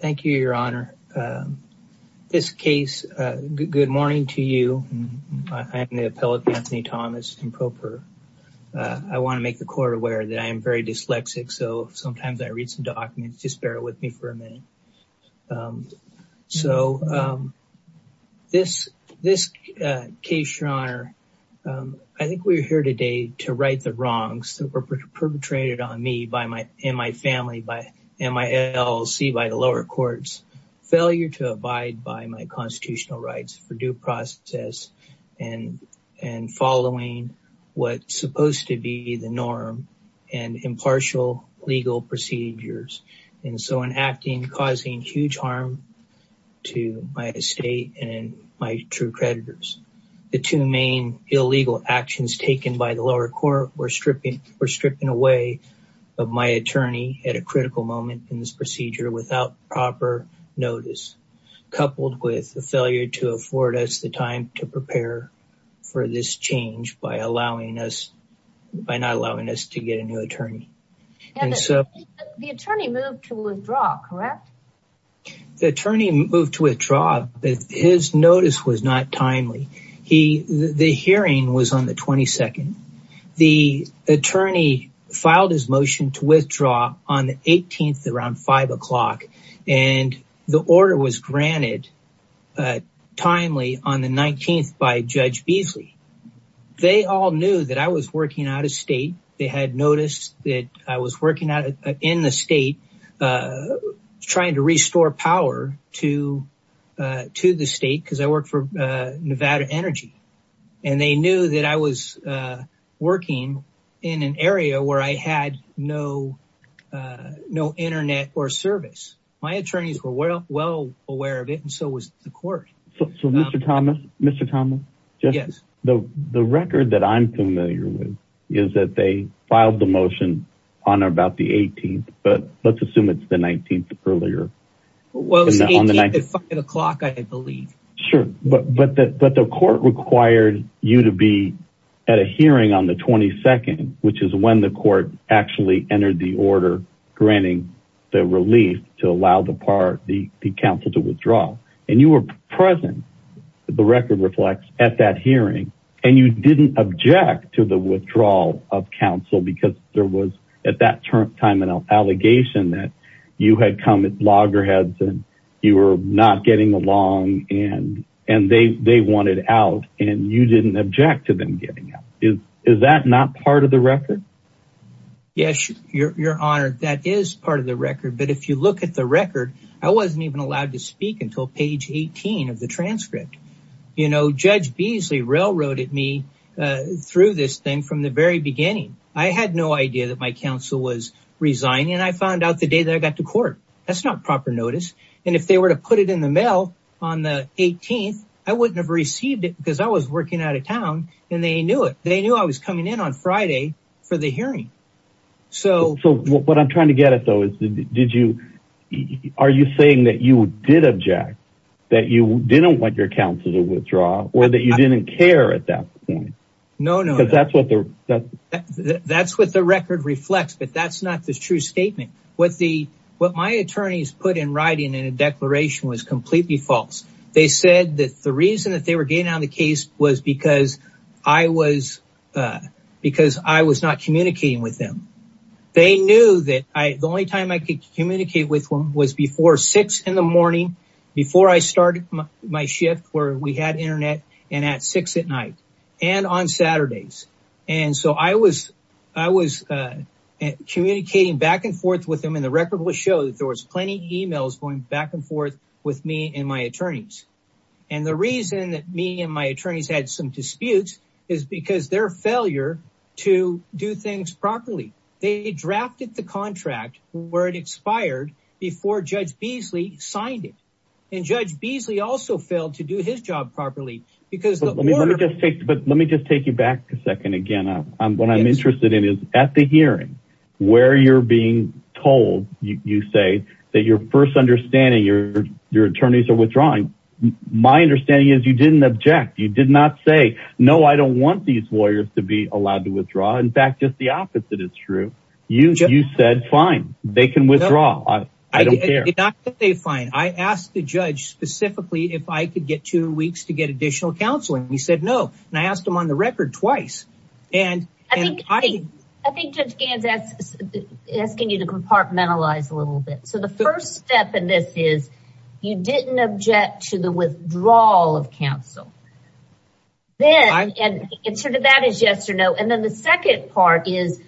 Thank you, Your Honor. This case, good morning to you. I'm the appellate Anthony Thomas, improper. I want to make the court aware that I am very dyslexic, so sometimes I read some documents. Just bear with me for a minute. So this case, Your Honor, I think we're here today to right the wrongs that were perpetrated on me and my family by MILC, by the lower courts. Failure to abide by my constitutional rights for due process and following what's supposed to be the norm and impartial legal procedures. And so in acting, causing huge harm to my estate and my true creditors. The two main illegal actions taken by the lower court were stripping away of my attorney at a critical moment in this procedure without proper notice, coupled with the failure to afford us the time to prepare for this change by not allowing us to get a new attorney. The attorney moved to withdraw, correct? The attorney moved to withdraw, but his notice was not timely. The hearing was on the 22nd. The attorney filed his motion to withdraw on the 18th around five o'clock and the order was granted timely on the 19th by Judge Beasley. They all knew that I was working out of state. They had noticed that I was working in the state trying to restore power to the state because I worked for Nevada Energy. And they knew that I was working in an area where I had no internet or service. My attorneys were well aware of it and so was the court. So Mr. Thomas, Mr. Thomas, the record that I'm familiar with is that they filed the motion on about the 18th, but let's assume it's the 19th earlier. Well, it's the 18th at five o'clock, I believe. Sure, but the court required you to be at a hearing on the 22nd, which is when the court actually entered the order granting the relief to allow the counsel to withdraw. And you were present, the record reflects, at that hearing and you didn't object to the withdrawal of counsel because there was at that time an allegation that you had come at loggerheads and you were not getting along and they wanted out and you didn't object to them getting out. Is that not part of the record? Yes, your honor, that is part of the record. But if you look at the record, I wasn't even allowed to speak until page 18 of the transcript. You know, Judge Beasley railroaded me through this thing from the very beginning. I had no idea that my counsel was resigning. I found out the day that I got to court. That's not proper notice. And if they were to put it in the mail on the 18th, I wouldn't have received it because I was working out of town and they knew it. They knew I was coming in on Friday for the hearing. So what I'm trying to get at though is did you, are you saying that you did object, that you didn't want your counsel to withdraw, or that you didn't care at that point? No, no. Because that's what the record reflects, but that's not the true statement. What my attorneys put in writing in a declaration was completely false. They said that the reason that they were getting out of the case was because I was not communicating with them. They knew that the only time I could communicate with them was before six in the morning, before I started my shift where we had internet and at six at night and on Saturdays. And so I was communicating back and forth with them and the record will show that there was plenty of emails going back and forth with me and my attorneys. And the reason that me and my attorneys had some disputes is because their failure to do things properly. They drafted the contract where it expired before Judge Beasley signed it. And Judge Beasley also failed to do his job properly because- But let me just take you back a second again. What I'm interested in is at the hearing, where you're being told, you say that your first understanding your attorneys are withdrawing. My understanding is you didn't object. You did not say, no, I don't want these lawyers to be allowed to withdraw. In fact, just the opposite is true. You said fine, they can withdraw. I don't care. I did not say fine. I asked the judge specifically if I could get two weeks to get additional counseling. He said no. And I asked him on the record twice. And I think- I think Judge Gans is asking you to compartmentalize a little bit. So the first step in this is you didn't object to the withdrawal of counsel. Then, and sort of that is yes or no. And then the second part is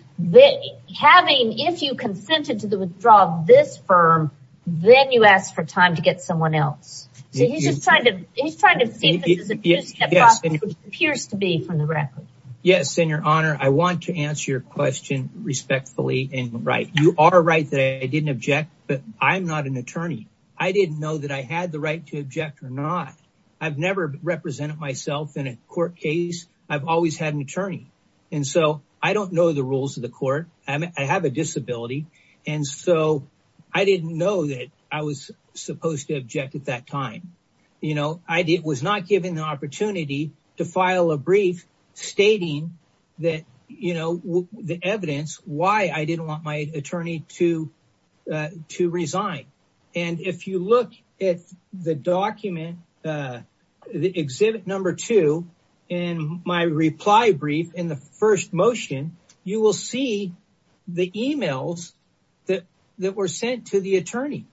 having, if you consented to the withdrawal of this firm, then you asked for time to get someone else. So he's just trying to, he's trying to see if this is a two-step process, which it appears to be from the record. Yes, in your honor, I want to answer your question respectfully and right. You are right that I am not an attorney. I didn't know that I had the right to object or not. I've never represented myself in a court case. I've always had an attorney. And so I don't know the rules of the court. I have a disability. And so I didn't know that I was supposed to object at that time. You know, I did, was not given the opportunity to file a brief stating that, you know, the evidence why I didn't want my attorney to, to resign. And if you look at the document, the exhibit number two in my reply brief in the first motion, you will see the emails that were sent to the attorney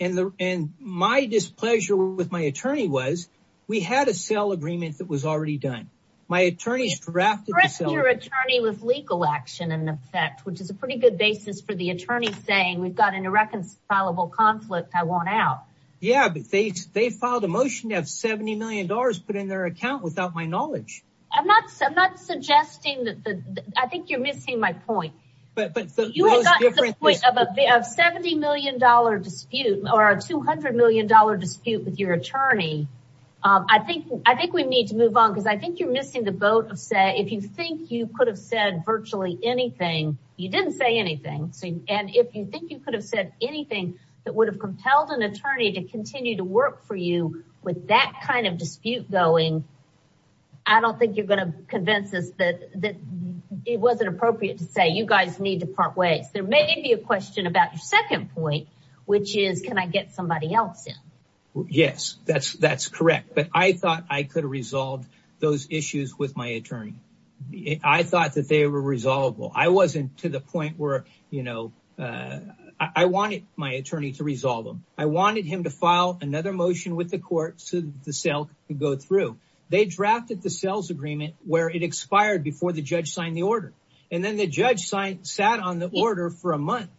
and the, and my displeasure with my attorney was we had a sale agreement that was already done. My attorney's drafted your attorney with legal action in effect, which is a pretty good basis for the attorney saying we've got an irreconcilable conflict. I want out. Yeah, but they, they filed a motion to have $70 million put in their account without my knowledge. I'm not, I'm not suggesting that the, I think you're missing my point. But you have a $70 million dispute or a $200 million dispute with your attorney. I think, I think we need to move on. Cause I think you're missing the boat of say, if you think you could have said virtually anything, you didn't say anything. So, and if you think you could have said anything that would have compelled an attorney to continue to work for you with that kind of dispute going, I don't think you're going to convince us that, that it wasn't appropriate to say you guys need to part ways. There may be a question about your Yes, that's, that's correct. But I thought I could resolve those issues with my attorney. I thought that they were resolvable. I wasn't to the point where, you know I wanted my attorney to resolve them. I wanted him to file another motion with the court so the sale could go through. They drafted the sales agreement where it expired before the judge signed the order. And then the judge signed, sat on the order for a month.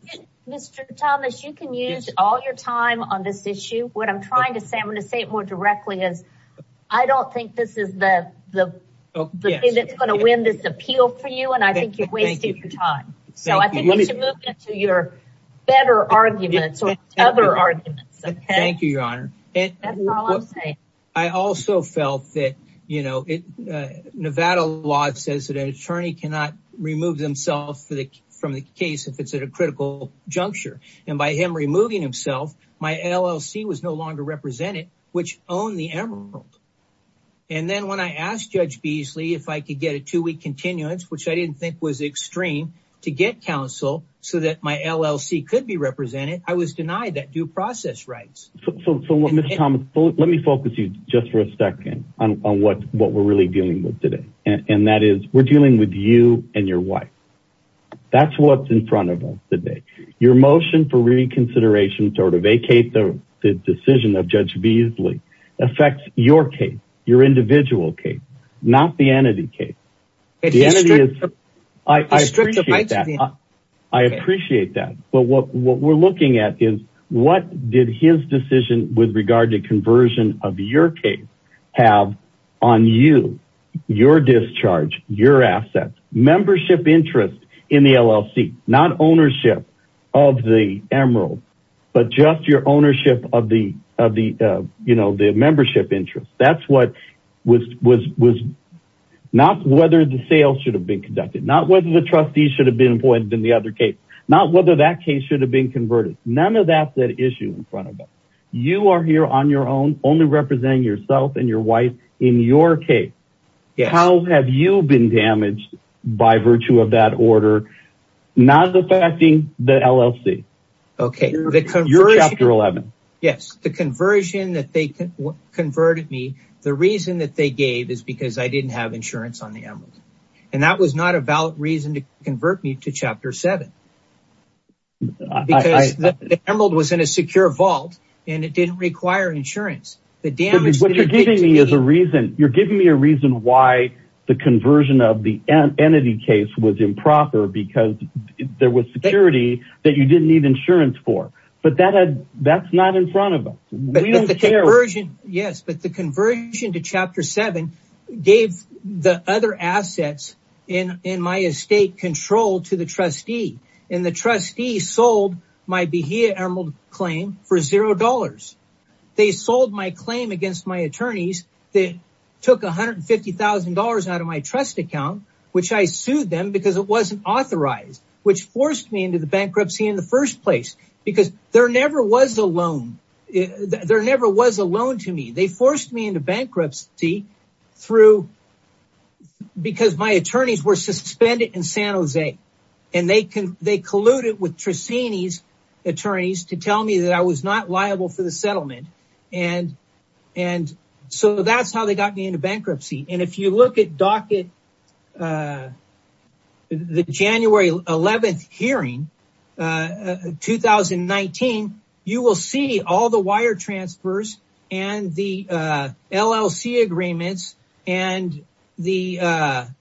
Mr. Thomas, you can use all your time on this issue. What I'm trying to say, I'm going to say it more directly as I don't think this is the, the, the thing that's going to win this appeal for you. And I think you're wasting your time. So I think we should move to your better arguments or other arguments. Thank you, your honor. I also felt that, you know, Nevada law says that an attorney cannot remove themselves from the case if it's at a critical juncture. And by him removing himself, my LLC was no longer represented, which owned the Emerald. And then when I asked Judge Beasley if I could get a two-week continuance, which I didn't think was extreme, to get counsel so that my LLC could be represented, I was denied that due process rights. So, Mr. Thomas, let me focus you just for a second on what we're really dealing with today. And that is we're dealing with you and your wife. That's what's in front of us today. Your motion for reconsideration to vacate the decision of Judge Beasley affects your case, your individual case, not the entity case. I appreciate that. I appreciate that. But what we're looking at is did his decision with regard to conversion of your case have on you, your discharge, your assets, membership interest in the LLC, not ownership of the Emerald, but just your ownership of the, you know, the membership interest. That's what was not whether the sales should have been conducted, not whether the trustees should have been appointed in the other case, not whether that case should have been converted. None of that's at issue in front of us. You are here on your own, only representing yourself and your wife in your case. How have you been damaged by virtue of that order, not affecting the LLC? You're Chapter 11. Yes. The conversion that they converted me, the reason that they gave is because I didn't have insurance on the Emerald. And that was not a reason to convert me to Chapter 7. The Emerald was in a secure vault and it didn't require insurance. You're giving me a reason why the conversion of the entity case was improper, because there was security that you didn't need insurance for. But that's not in front of us. The conversion, yes, but the conversion to Chapter 7 gave the other assets in my estate control to the trustee and the trustee sold my Beheya Emerald claim for $0. They sold my claim against my attorneys that took $150,000 out of my trust account, which I sued them because it wasn't authorized, which forced me into the bankruptcy in the first place, because there never was a loan to me. They forced me into bankruptcy because my attorneys were suspended in San Jose. And they colluded with Trissini's attorneys to tell me that I was not liable for the settlement. And so that's how they got me into bankruptcy. And if you look at the January 11th hearing, 2019, you will see all the wire transfers and the LLC agreements. I'll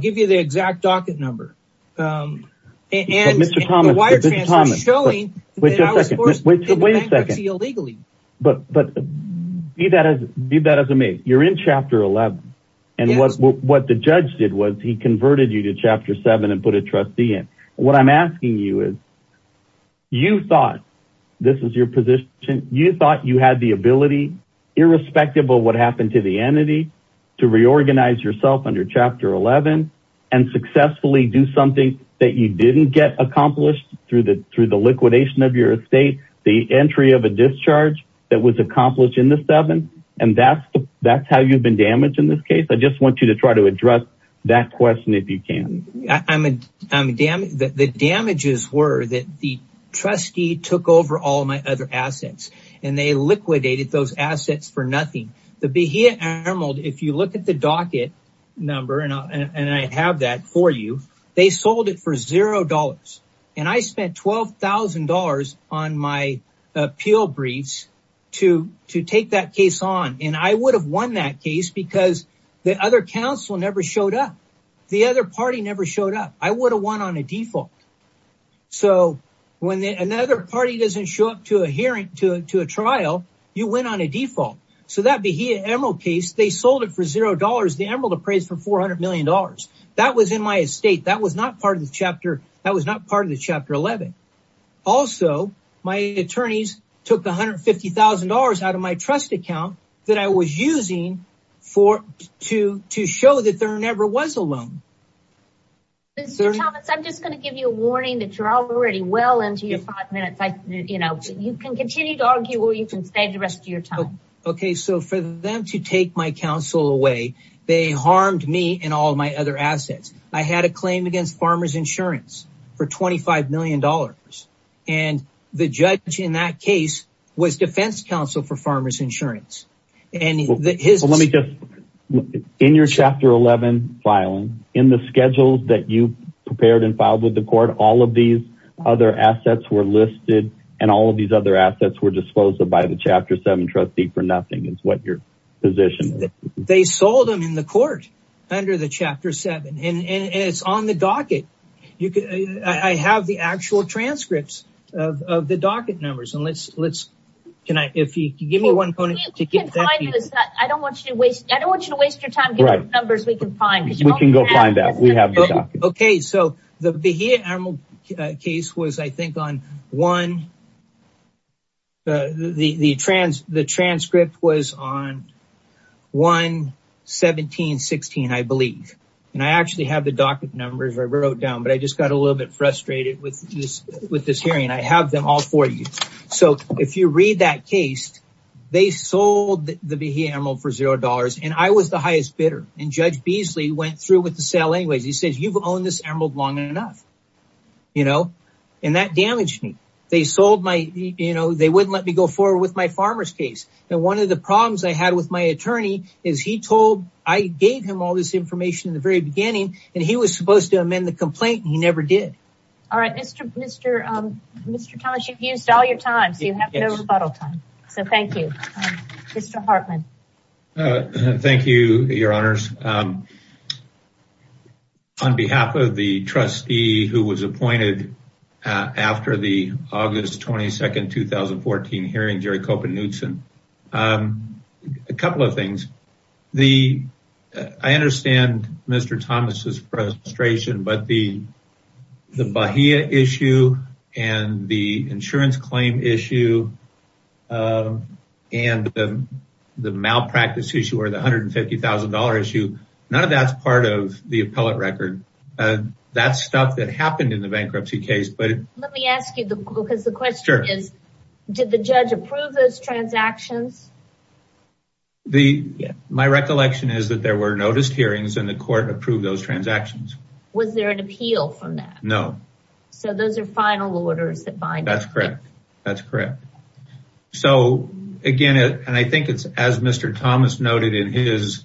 give you the exact docket number. And the wire transfers showing that I was forced into bankruptcy illegally. But be that as it may, you're in Chapter 11. And what the judge did was he converted you to Chapter 7 and put a trustee in. What I'm asking you is, you thought this is your position. You thought you had the ability, irrespective of what happened to the entity, to reorganize yourself under Chapter 11 and successfully do something that you didn't get accomplished through the liquidation of your estate, the entry of a discharge that was accomplished in the 7th. And that's how you've been damaged in this case. I just want you to try address that question if you can. The damages were that the trustee took over all my other assets and they liquidated those assets for nothing. The Bahia Emerald, if you look at the docket number, and I have that for you, they sold it for $0. And I spent $12,000 on my appeal briefs to take that case on. And I would have won that case because the other counsel never showed up. The other party never showed up. I would have won on a default. So when another party doesn't show up to a hearing, to a trial, you win on a default. So that Bahia Emerald case, they sold it for $0. The Emerald appraised for $400 million. That was in my estate. That was not part of the Chapter 11. Also, my attorneys took $150,000 out of my trust account that I was using to show that there never was a loan. Mr. Thomas, I'm just going to give you a warning that you're already well into your five minutes. You can continue to argue or you can stay the rest of your time. Okay. So for them to take my counsel away, they harmed me and all my other assets. I had a claim against Farmer's Insurance for $25 million. And the judge in that case was Defense Counsel for Farmer's Insurance. Let me just, in your Chapter 11 filing, in the schedules that you prepared and filed with the court, all of these other assets were listed and all of these other assets were disposed of by the Chapter 7 trustee for nothing is what your position is. They sold them in the court under the Chapter 7. And it's on the docket. I have the actual transcripts of the docket numbers. And let's, can I, if you give me one moment to get that. I don't want you to waste, I don't want you to waste your time giving the numbers we can find. We can go find that. We have the docket. Okay. So the Bahia Emerald case was, I think, on one, the transcript was on 1-17-16, I believe. And I actually have the docket numbers I wrote down, but I just got a little bit frustrated with this hearing. I have them all for you. So if you read that case, they sold the Bahia Emerald for $0. And I was the highest bidder. And Judge Beasley went through with the sale anyways. He says, you've owned this Emerald long enough. You know, and that damaged me. They sold my, you know, they wouldn't let me go forward with my farmer's case. And one of the problems I had with my attorney is he told, I gave him all this information in the very beginning, and he was supposed to amend the complaint. He never did. All right, Mr. Thomas, you've used all your time. So you have no rebuttal time. So thank you. Mr. Hartman. All right. Thank you, your honors. On behalf of the trustee who was appointed after the August 22nd, 2014 hearing, Jerry Kopernutzen, a couple of things. I understand Mr. Thomas's frustration, but the Bahia issue and the insurance claim issue and the malpractice issue or the $150,000 issue, none of that's part of the appellate record. That's stuff that happened in the bankruptcy case. But let me ask you, because the question is, did the judge approve those transactions? My recollection is that there were noticed hearings and the court approved those transactions. Was there an appeal from that? No. So those are final orders that bind? That's correct. That's correct. So again, and I think it's as Mr. Thomas noted in his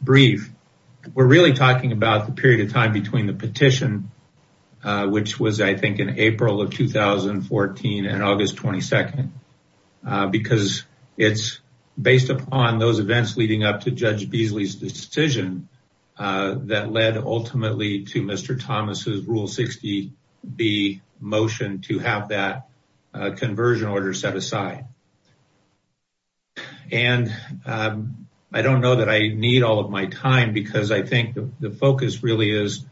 brief, we're really talking about the period of time between the petition, which was, I think, in April of 2014 and August 22nd, because it's based upon those events leading up to Judge Beasley's decision that led ultimately to Mr. Thomas's Rule 60B motion to have that conversion order set aside. And I don't know that I need all of my time because I think the focus really is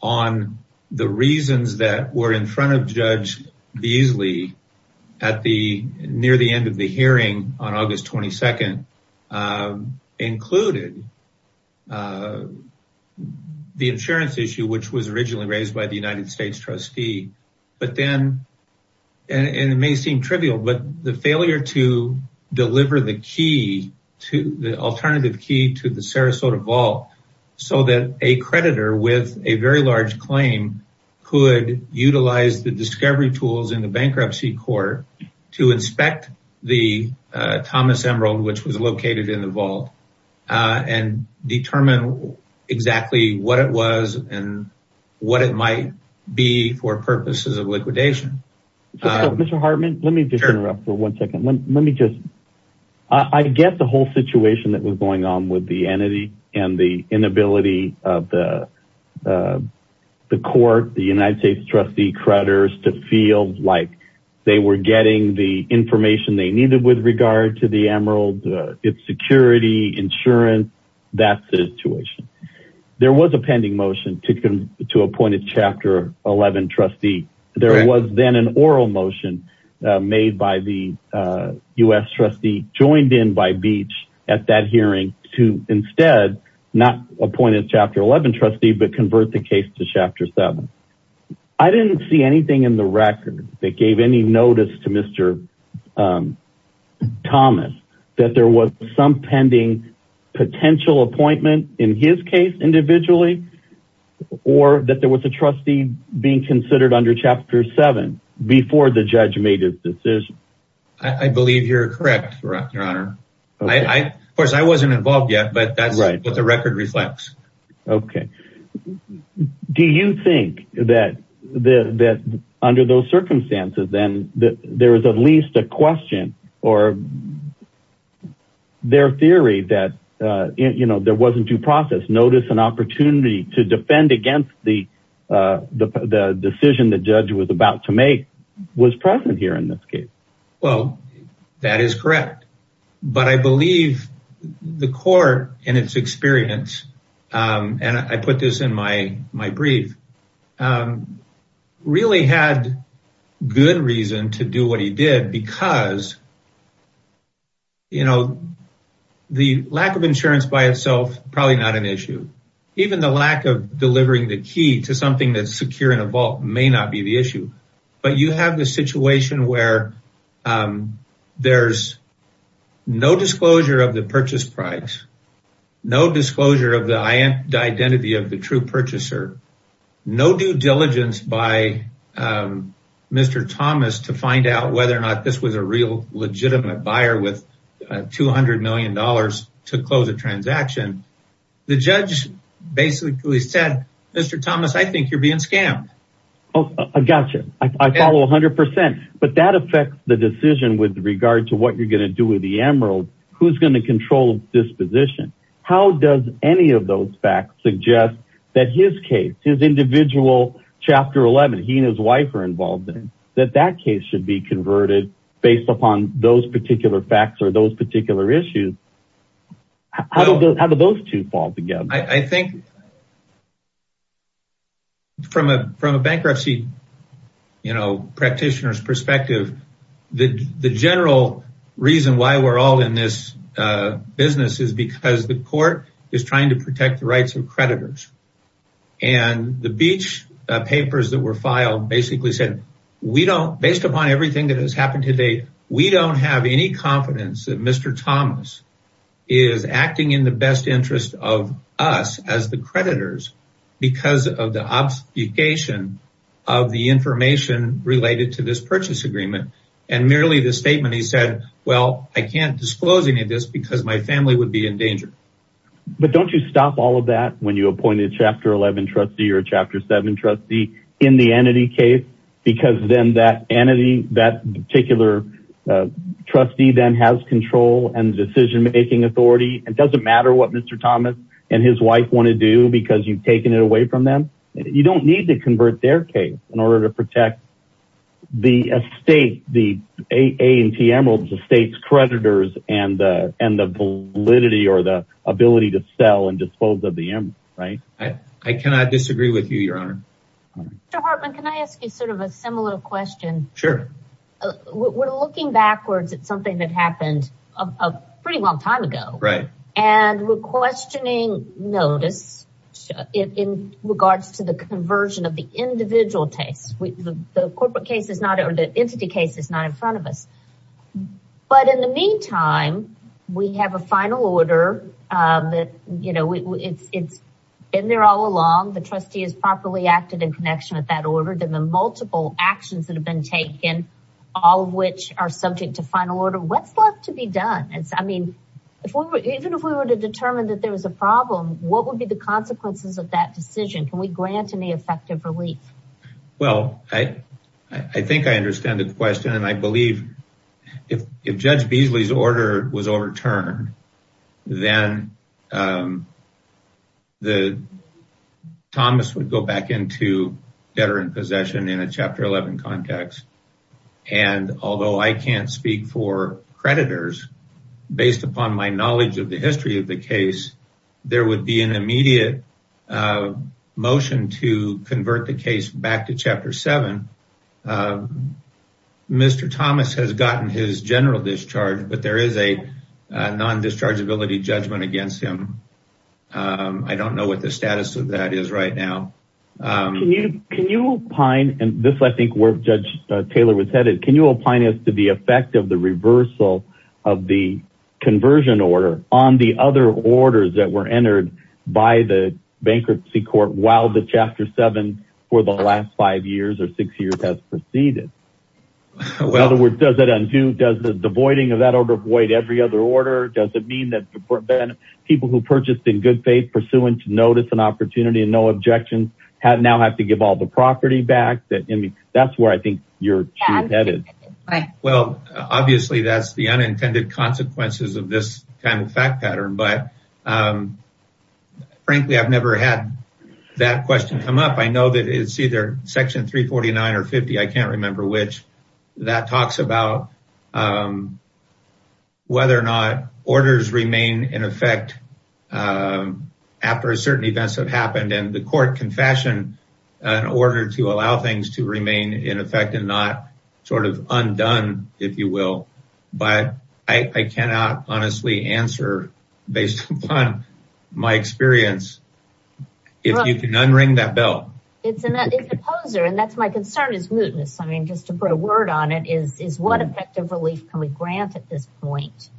on the reasons that were in front of Judge Beasley near the end of the hearing on August 22nd included the insurance issue, which was originally raised by the United States trustee. But then, and it may seem trivial, but the failure to deliver the alternative key to the Sarasota vault so that a creditor with a very large claim could utilize the discovery tools in the bankruptcy court to inspect the Thomas Emerald, which was located in the vault and determine exactly what it was and what it might be for purposes of liquidation. Mr. Hartman, let me just interrupt for one second. Let me just, I get the whole situation that was going on with the entity and the inability of the court, the United States trustee creditors to feel like they were getting the information they needed with regard to the Emerald, its security, insurance, that situation. There was a pending motion to appoint a chapter 11 trustee. There was then an oral motion made by the U.S. trustee joined in by Beach at that hearing to instead not appoint a chapter 11 trustee, but convert the case to chapter seven. I didn't see anything in the record that gave any notice to Mr. Thomas that there was some pending potential appointment in his case individually, or that there was a trustee being considered under chapter seven before the judge made his decision. I believe you're correct, your honor. Of course, I wasn't involved yet, but that's what the record reflects. Okay. Do you think that under those circumstances then that there was at least a question or their theory that, you know, there wasn't due process notice and opportunity to defend against the decision the judge was about to make was present here in this case? Well, that is correct, but I believe the court and its experience, and I put this in my brief, really had good reason to do what he did because, you know, the lack of insurance by itself, probably not an issue. Even the lack of delivering the key to something that's secure in a vault may not be the issue, but you have the situation where there's no disclosure of the purchase price, no disclosure of the identity of the true purchaser, no due diligence by Mr. Thomas to find out whether or not this was a real legitimate buyer with $200 million to close a transaction. The judge basically said, Mr. Thomas, I think you're being scammed. Oh, I gotcha. I follow a hundred percent, but that affects the decision with regard to what you're going to do with the emerald, who's going to individual chapter 11, he and his wife are involved in, that that case should be converted based upon those particular facts or those particular issues. How do those two fall together? I think from a bankruptcy, you know, practitioner's perspective, the general reason why we're all in this business is because the court is trying to protect the rights of creditors. And the beach papers that were filed basically said, we don't, based upon everything that has happened to date, we don't have any confidence that Mr. Thomas is acting in the best interest of us as the creditors because of the obfuscation of the information related to this purchase agreement. And merely the statement, he said, well, I can't disclose any of this because my family would be in danger. But don't you stop all of that when you appointed chapter 11 trustee or chapter seven trustee in the entity case, because then that entity, that particular trustee then has control and decision-making authority. It doesn't matter what Mr. Thomas and his wife want to do because you've taken it away from them. You don't need to convert their case in order to protect the estate, the A and T emeralds, the state's creditors and the validity or the ability to sell and dispose of the emeralds, right? I cannot disagree with you, your honor. Mr. Hartman, can I ask you sort of a similar question? Sure. We're looking backwards at something that happened a pretty long time ago. Right. And we're questioning notice in regards to the conversion of the individual case. The corporate case is not or the entity case is not in front of us. But in the meantime, we have a final order that, you know, it's been there all along. The trustee has properly acted in connection with that order. There have been multiple actions that have been taken, all of which are subject to final order. What's left to be done? I mean, even if we were to determine that there was a problem, what would be the consequences of that decision? Can we grant any effective relief? Well, I think I understand the question and I believe if Judge Beasley's order was overturned, then Thomas would go back into veteran possession in a Chapter 11 context. And although I can't speak for creditors, based upon my knowledge of the history of the case, there would be an immediate motion to convert the case back to Chapter 7. Mr. Thomas has gotten his general discharge, but there is a non-dischargeability judgment against him. I don't know what the status of that is right now. Can you can you opine, and this I think where Judge Taylor was headed, can you opine as to the effect of the conversion order on the other orders that were entered by the bankruptcy court while the Chapter 7 for the last five years or six years has proceeded? In other words, does that undo, does the voiding of that order void every other order? Does it mean that people who purchased in good faith, pursuant to notice and opportunity and no objections, now have to give all the property back? That's where I think you're headed. Well, obviously that's the unintended consequences of this kind of fact pattern, but frankly I've never had that question come up. I know that it's either Section 349 or 50, I can't remember which, that talks about whether or not orders remain in effect after certain events have happened and the court can fashion an order to allow things to remain in effect and not sort of undone, if you will, but I cannot honestly answer based upon my experience. If you can unring that bell. It's an opposer and that's my concern is mootness. I mean just to put a word on it, is what effective relief can we grant at this point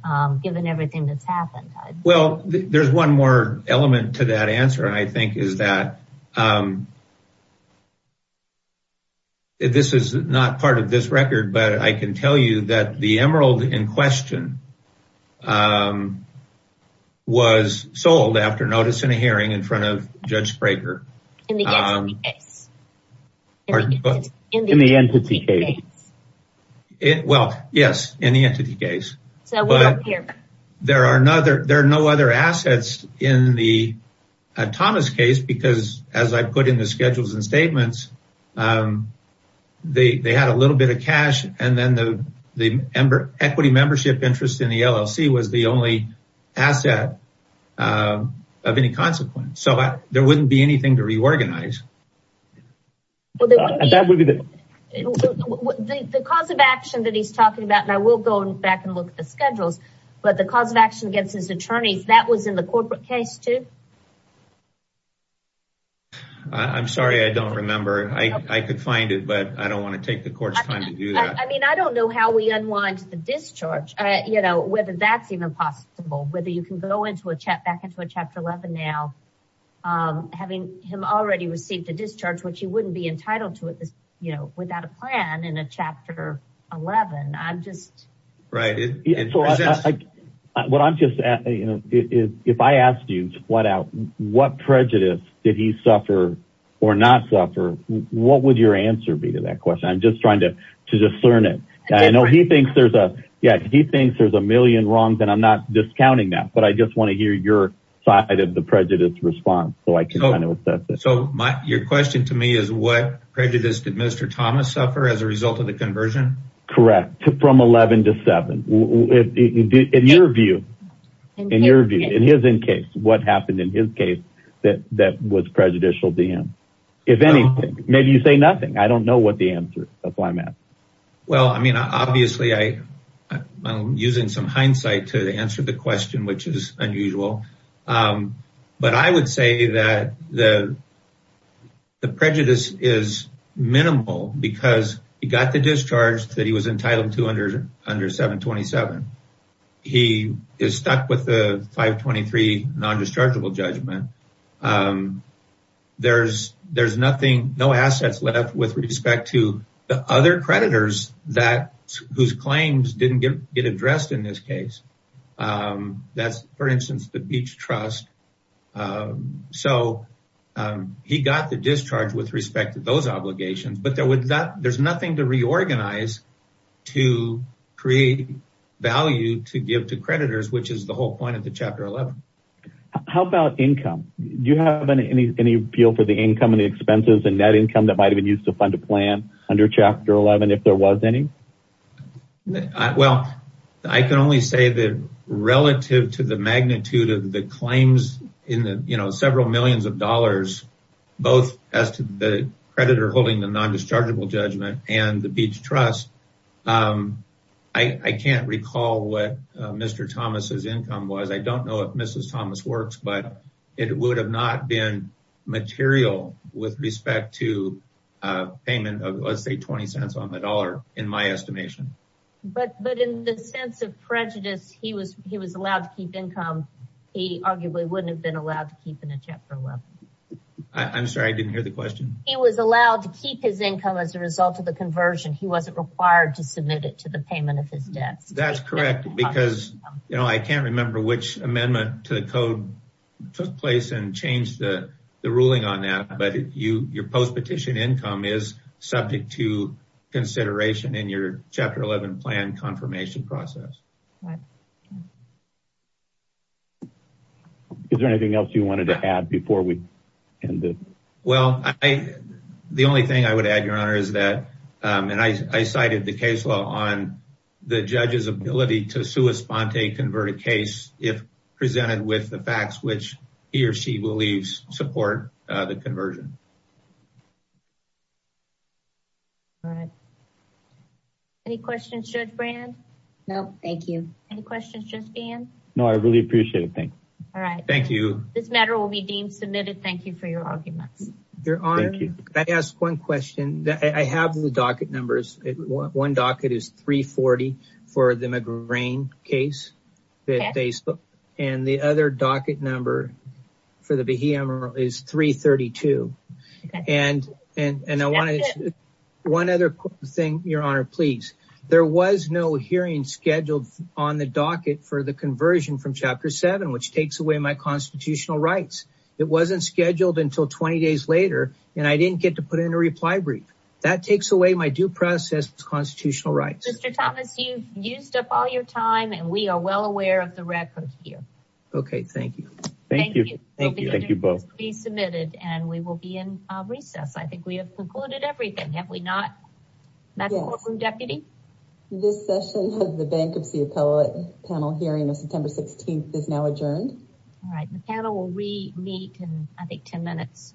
given everything that's happened? Well, there's one more element to that answer and I think is that this is not part of this record, but I can tell you that the emerald in question was sold after notice in a hearing in front of Judge Sprager. In the entity case? Well, yes, in the entity case, but there are no other assets in the Thomas case because as I put in the schedules and statements, they had a little bit of cash and then the equity membership interest in the LLC was the only to reorganize. The cause of action that he's talking about, and I will go back and look at the schedules, but the cause of action against his attorneys, that was in the corporate case too? I'm sorry, I don't remember. I could find it, but I don't want to take the court's time to do that. I mean, I don't know how we unwind the discharge, whether that's impossible, whether you can go back into a chapter 11 now, having him already received a discharge, which he wouldn't be entitled to it without a plan in a chapter 11. If I asked you to point out what prejudice did he suffer or not suffer, what would your answer be to that question? I'm just trying to discern it. I know he thinks there's a million wrongs, I'm not discounting that, but I just want to hear your side of the prejudice response. Your question to me is what prejudice did Mr. Thomas suffer as a result of the conversion? Correct. From 11 to 7. In your view, in his case, what happened in his case that was prejudicial to him? If anything, maybe you say nothing. I don't know what the answer is. That's why I'm answering the question, which is unusual. But I would say that the prejudice is minimal because he got the discharge that he was entitled to under 727. He is stuck with the 523 non-dischargeable judgment. There's no assets left with respect to the other creditors whose claims didn't get addressed in this case. That's, for instance, the Beach Trust. He got the discharge with respect to those obligations, but there's nothing to reorganize to create value to give to creditors, which is the whole point of the chapter 11. How about income? Do you have any appeal for the income and expenses and net income that might have been used to fund a plan under chapter 11, if there was any? I can only say that relative to the magnitude of the claims in the several millions of dollars, both as to the creditor holding the non-dischargeable judgment and the Beach Trust, I can't recall what Mr. Thomas's income was. I don't know if Mrs. Thomas works, but it would have not been material with respect to payment of, let's say, 20 cents on the dollar in my estimation. But in the sense of prejudice, he was allowed to keep income. He arguably wouldn't have been allowed to keep in a chapter 11. I'm sorry, I didn't hear the question. He was allowed to keep his income as a result of the conversion. He wasn't required to submit it to the payment of his debts. That's correct because, you know, I can't remember which amendment to the code took place and changed the ruling on that, but your post-petition income is subject to consideration in your chapter 11 plan confirmation process. Is there anything else you wanted to add before we end it? Well, the only thing I would add, Your Honor, is that, and I cited the case law on the judge's ability to sua sponte convert a case if presented with the facts which he or she believes support the conversion. All right. Any questions, Judge Brand? No, thank you. Any questions, Judge Gahan? No, I really appreciate it. Thanks. All right. Thank you. This matter will be deemed submitted. Thank you for your arguments. Your Honor, can I ask one question? I have the docket numbers. One docket is 340 for the McGrane case that they spoke and the other docket number for the behemoth is 332. And I wanted one other thing, Your Honor, please. There was no hearing scheduled on the docket for the conversion from Chapter 7, which takes away my constitutional rights. It wasn't scheduled until 20 days later and I didn't get to put in a reply brief. That takes away my due process constitutional rights. Mr. Thomas, you've used up all your time and we are well aware of the record here. Okay. Thank you. Thank you. Thank you. Thank you both. It will be submitted and we will be in recess. I think we have concluded everything, have we not, Madam Courtroom Deputy? This session of the Bankruptcy Appellate Panel hearing on September 16th is now adjourned. All right. The panel will re-meet in, I think, 10 minutes.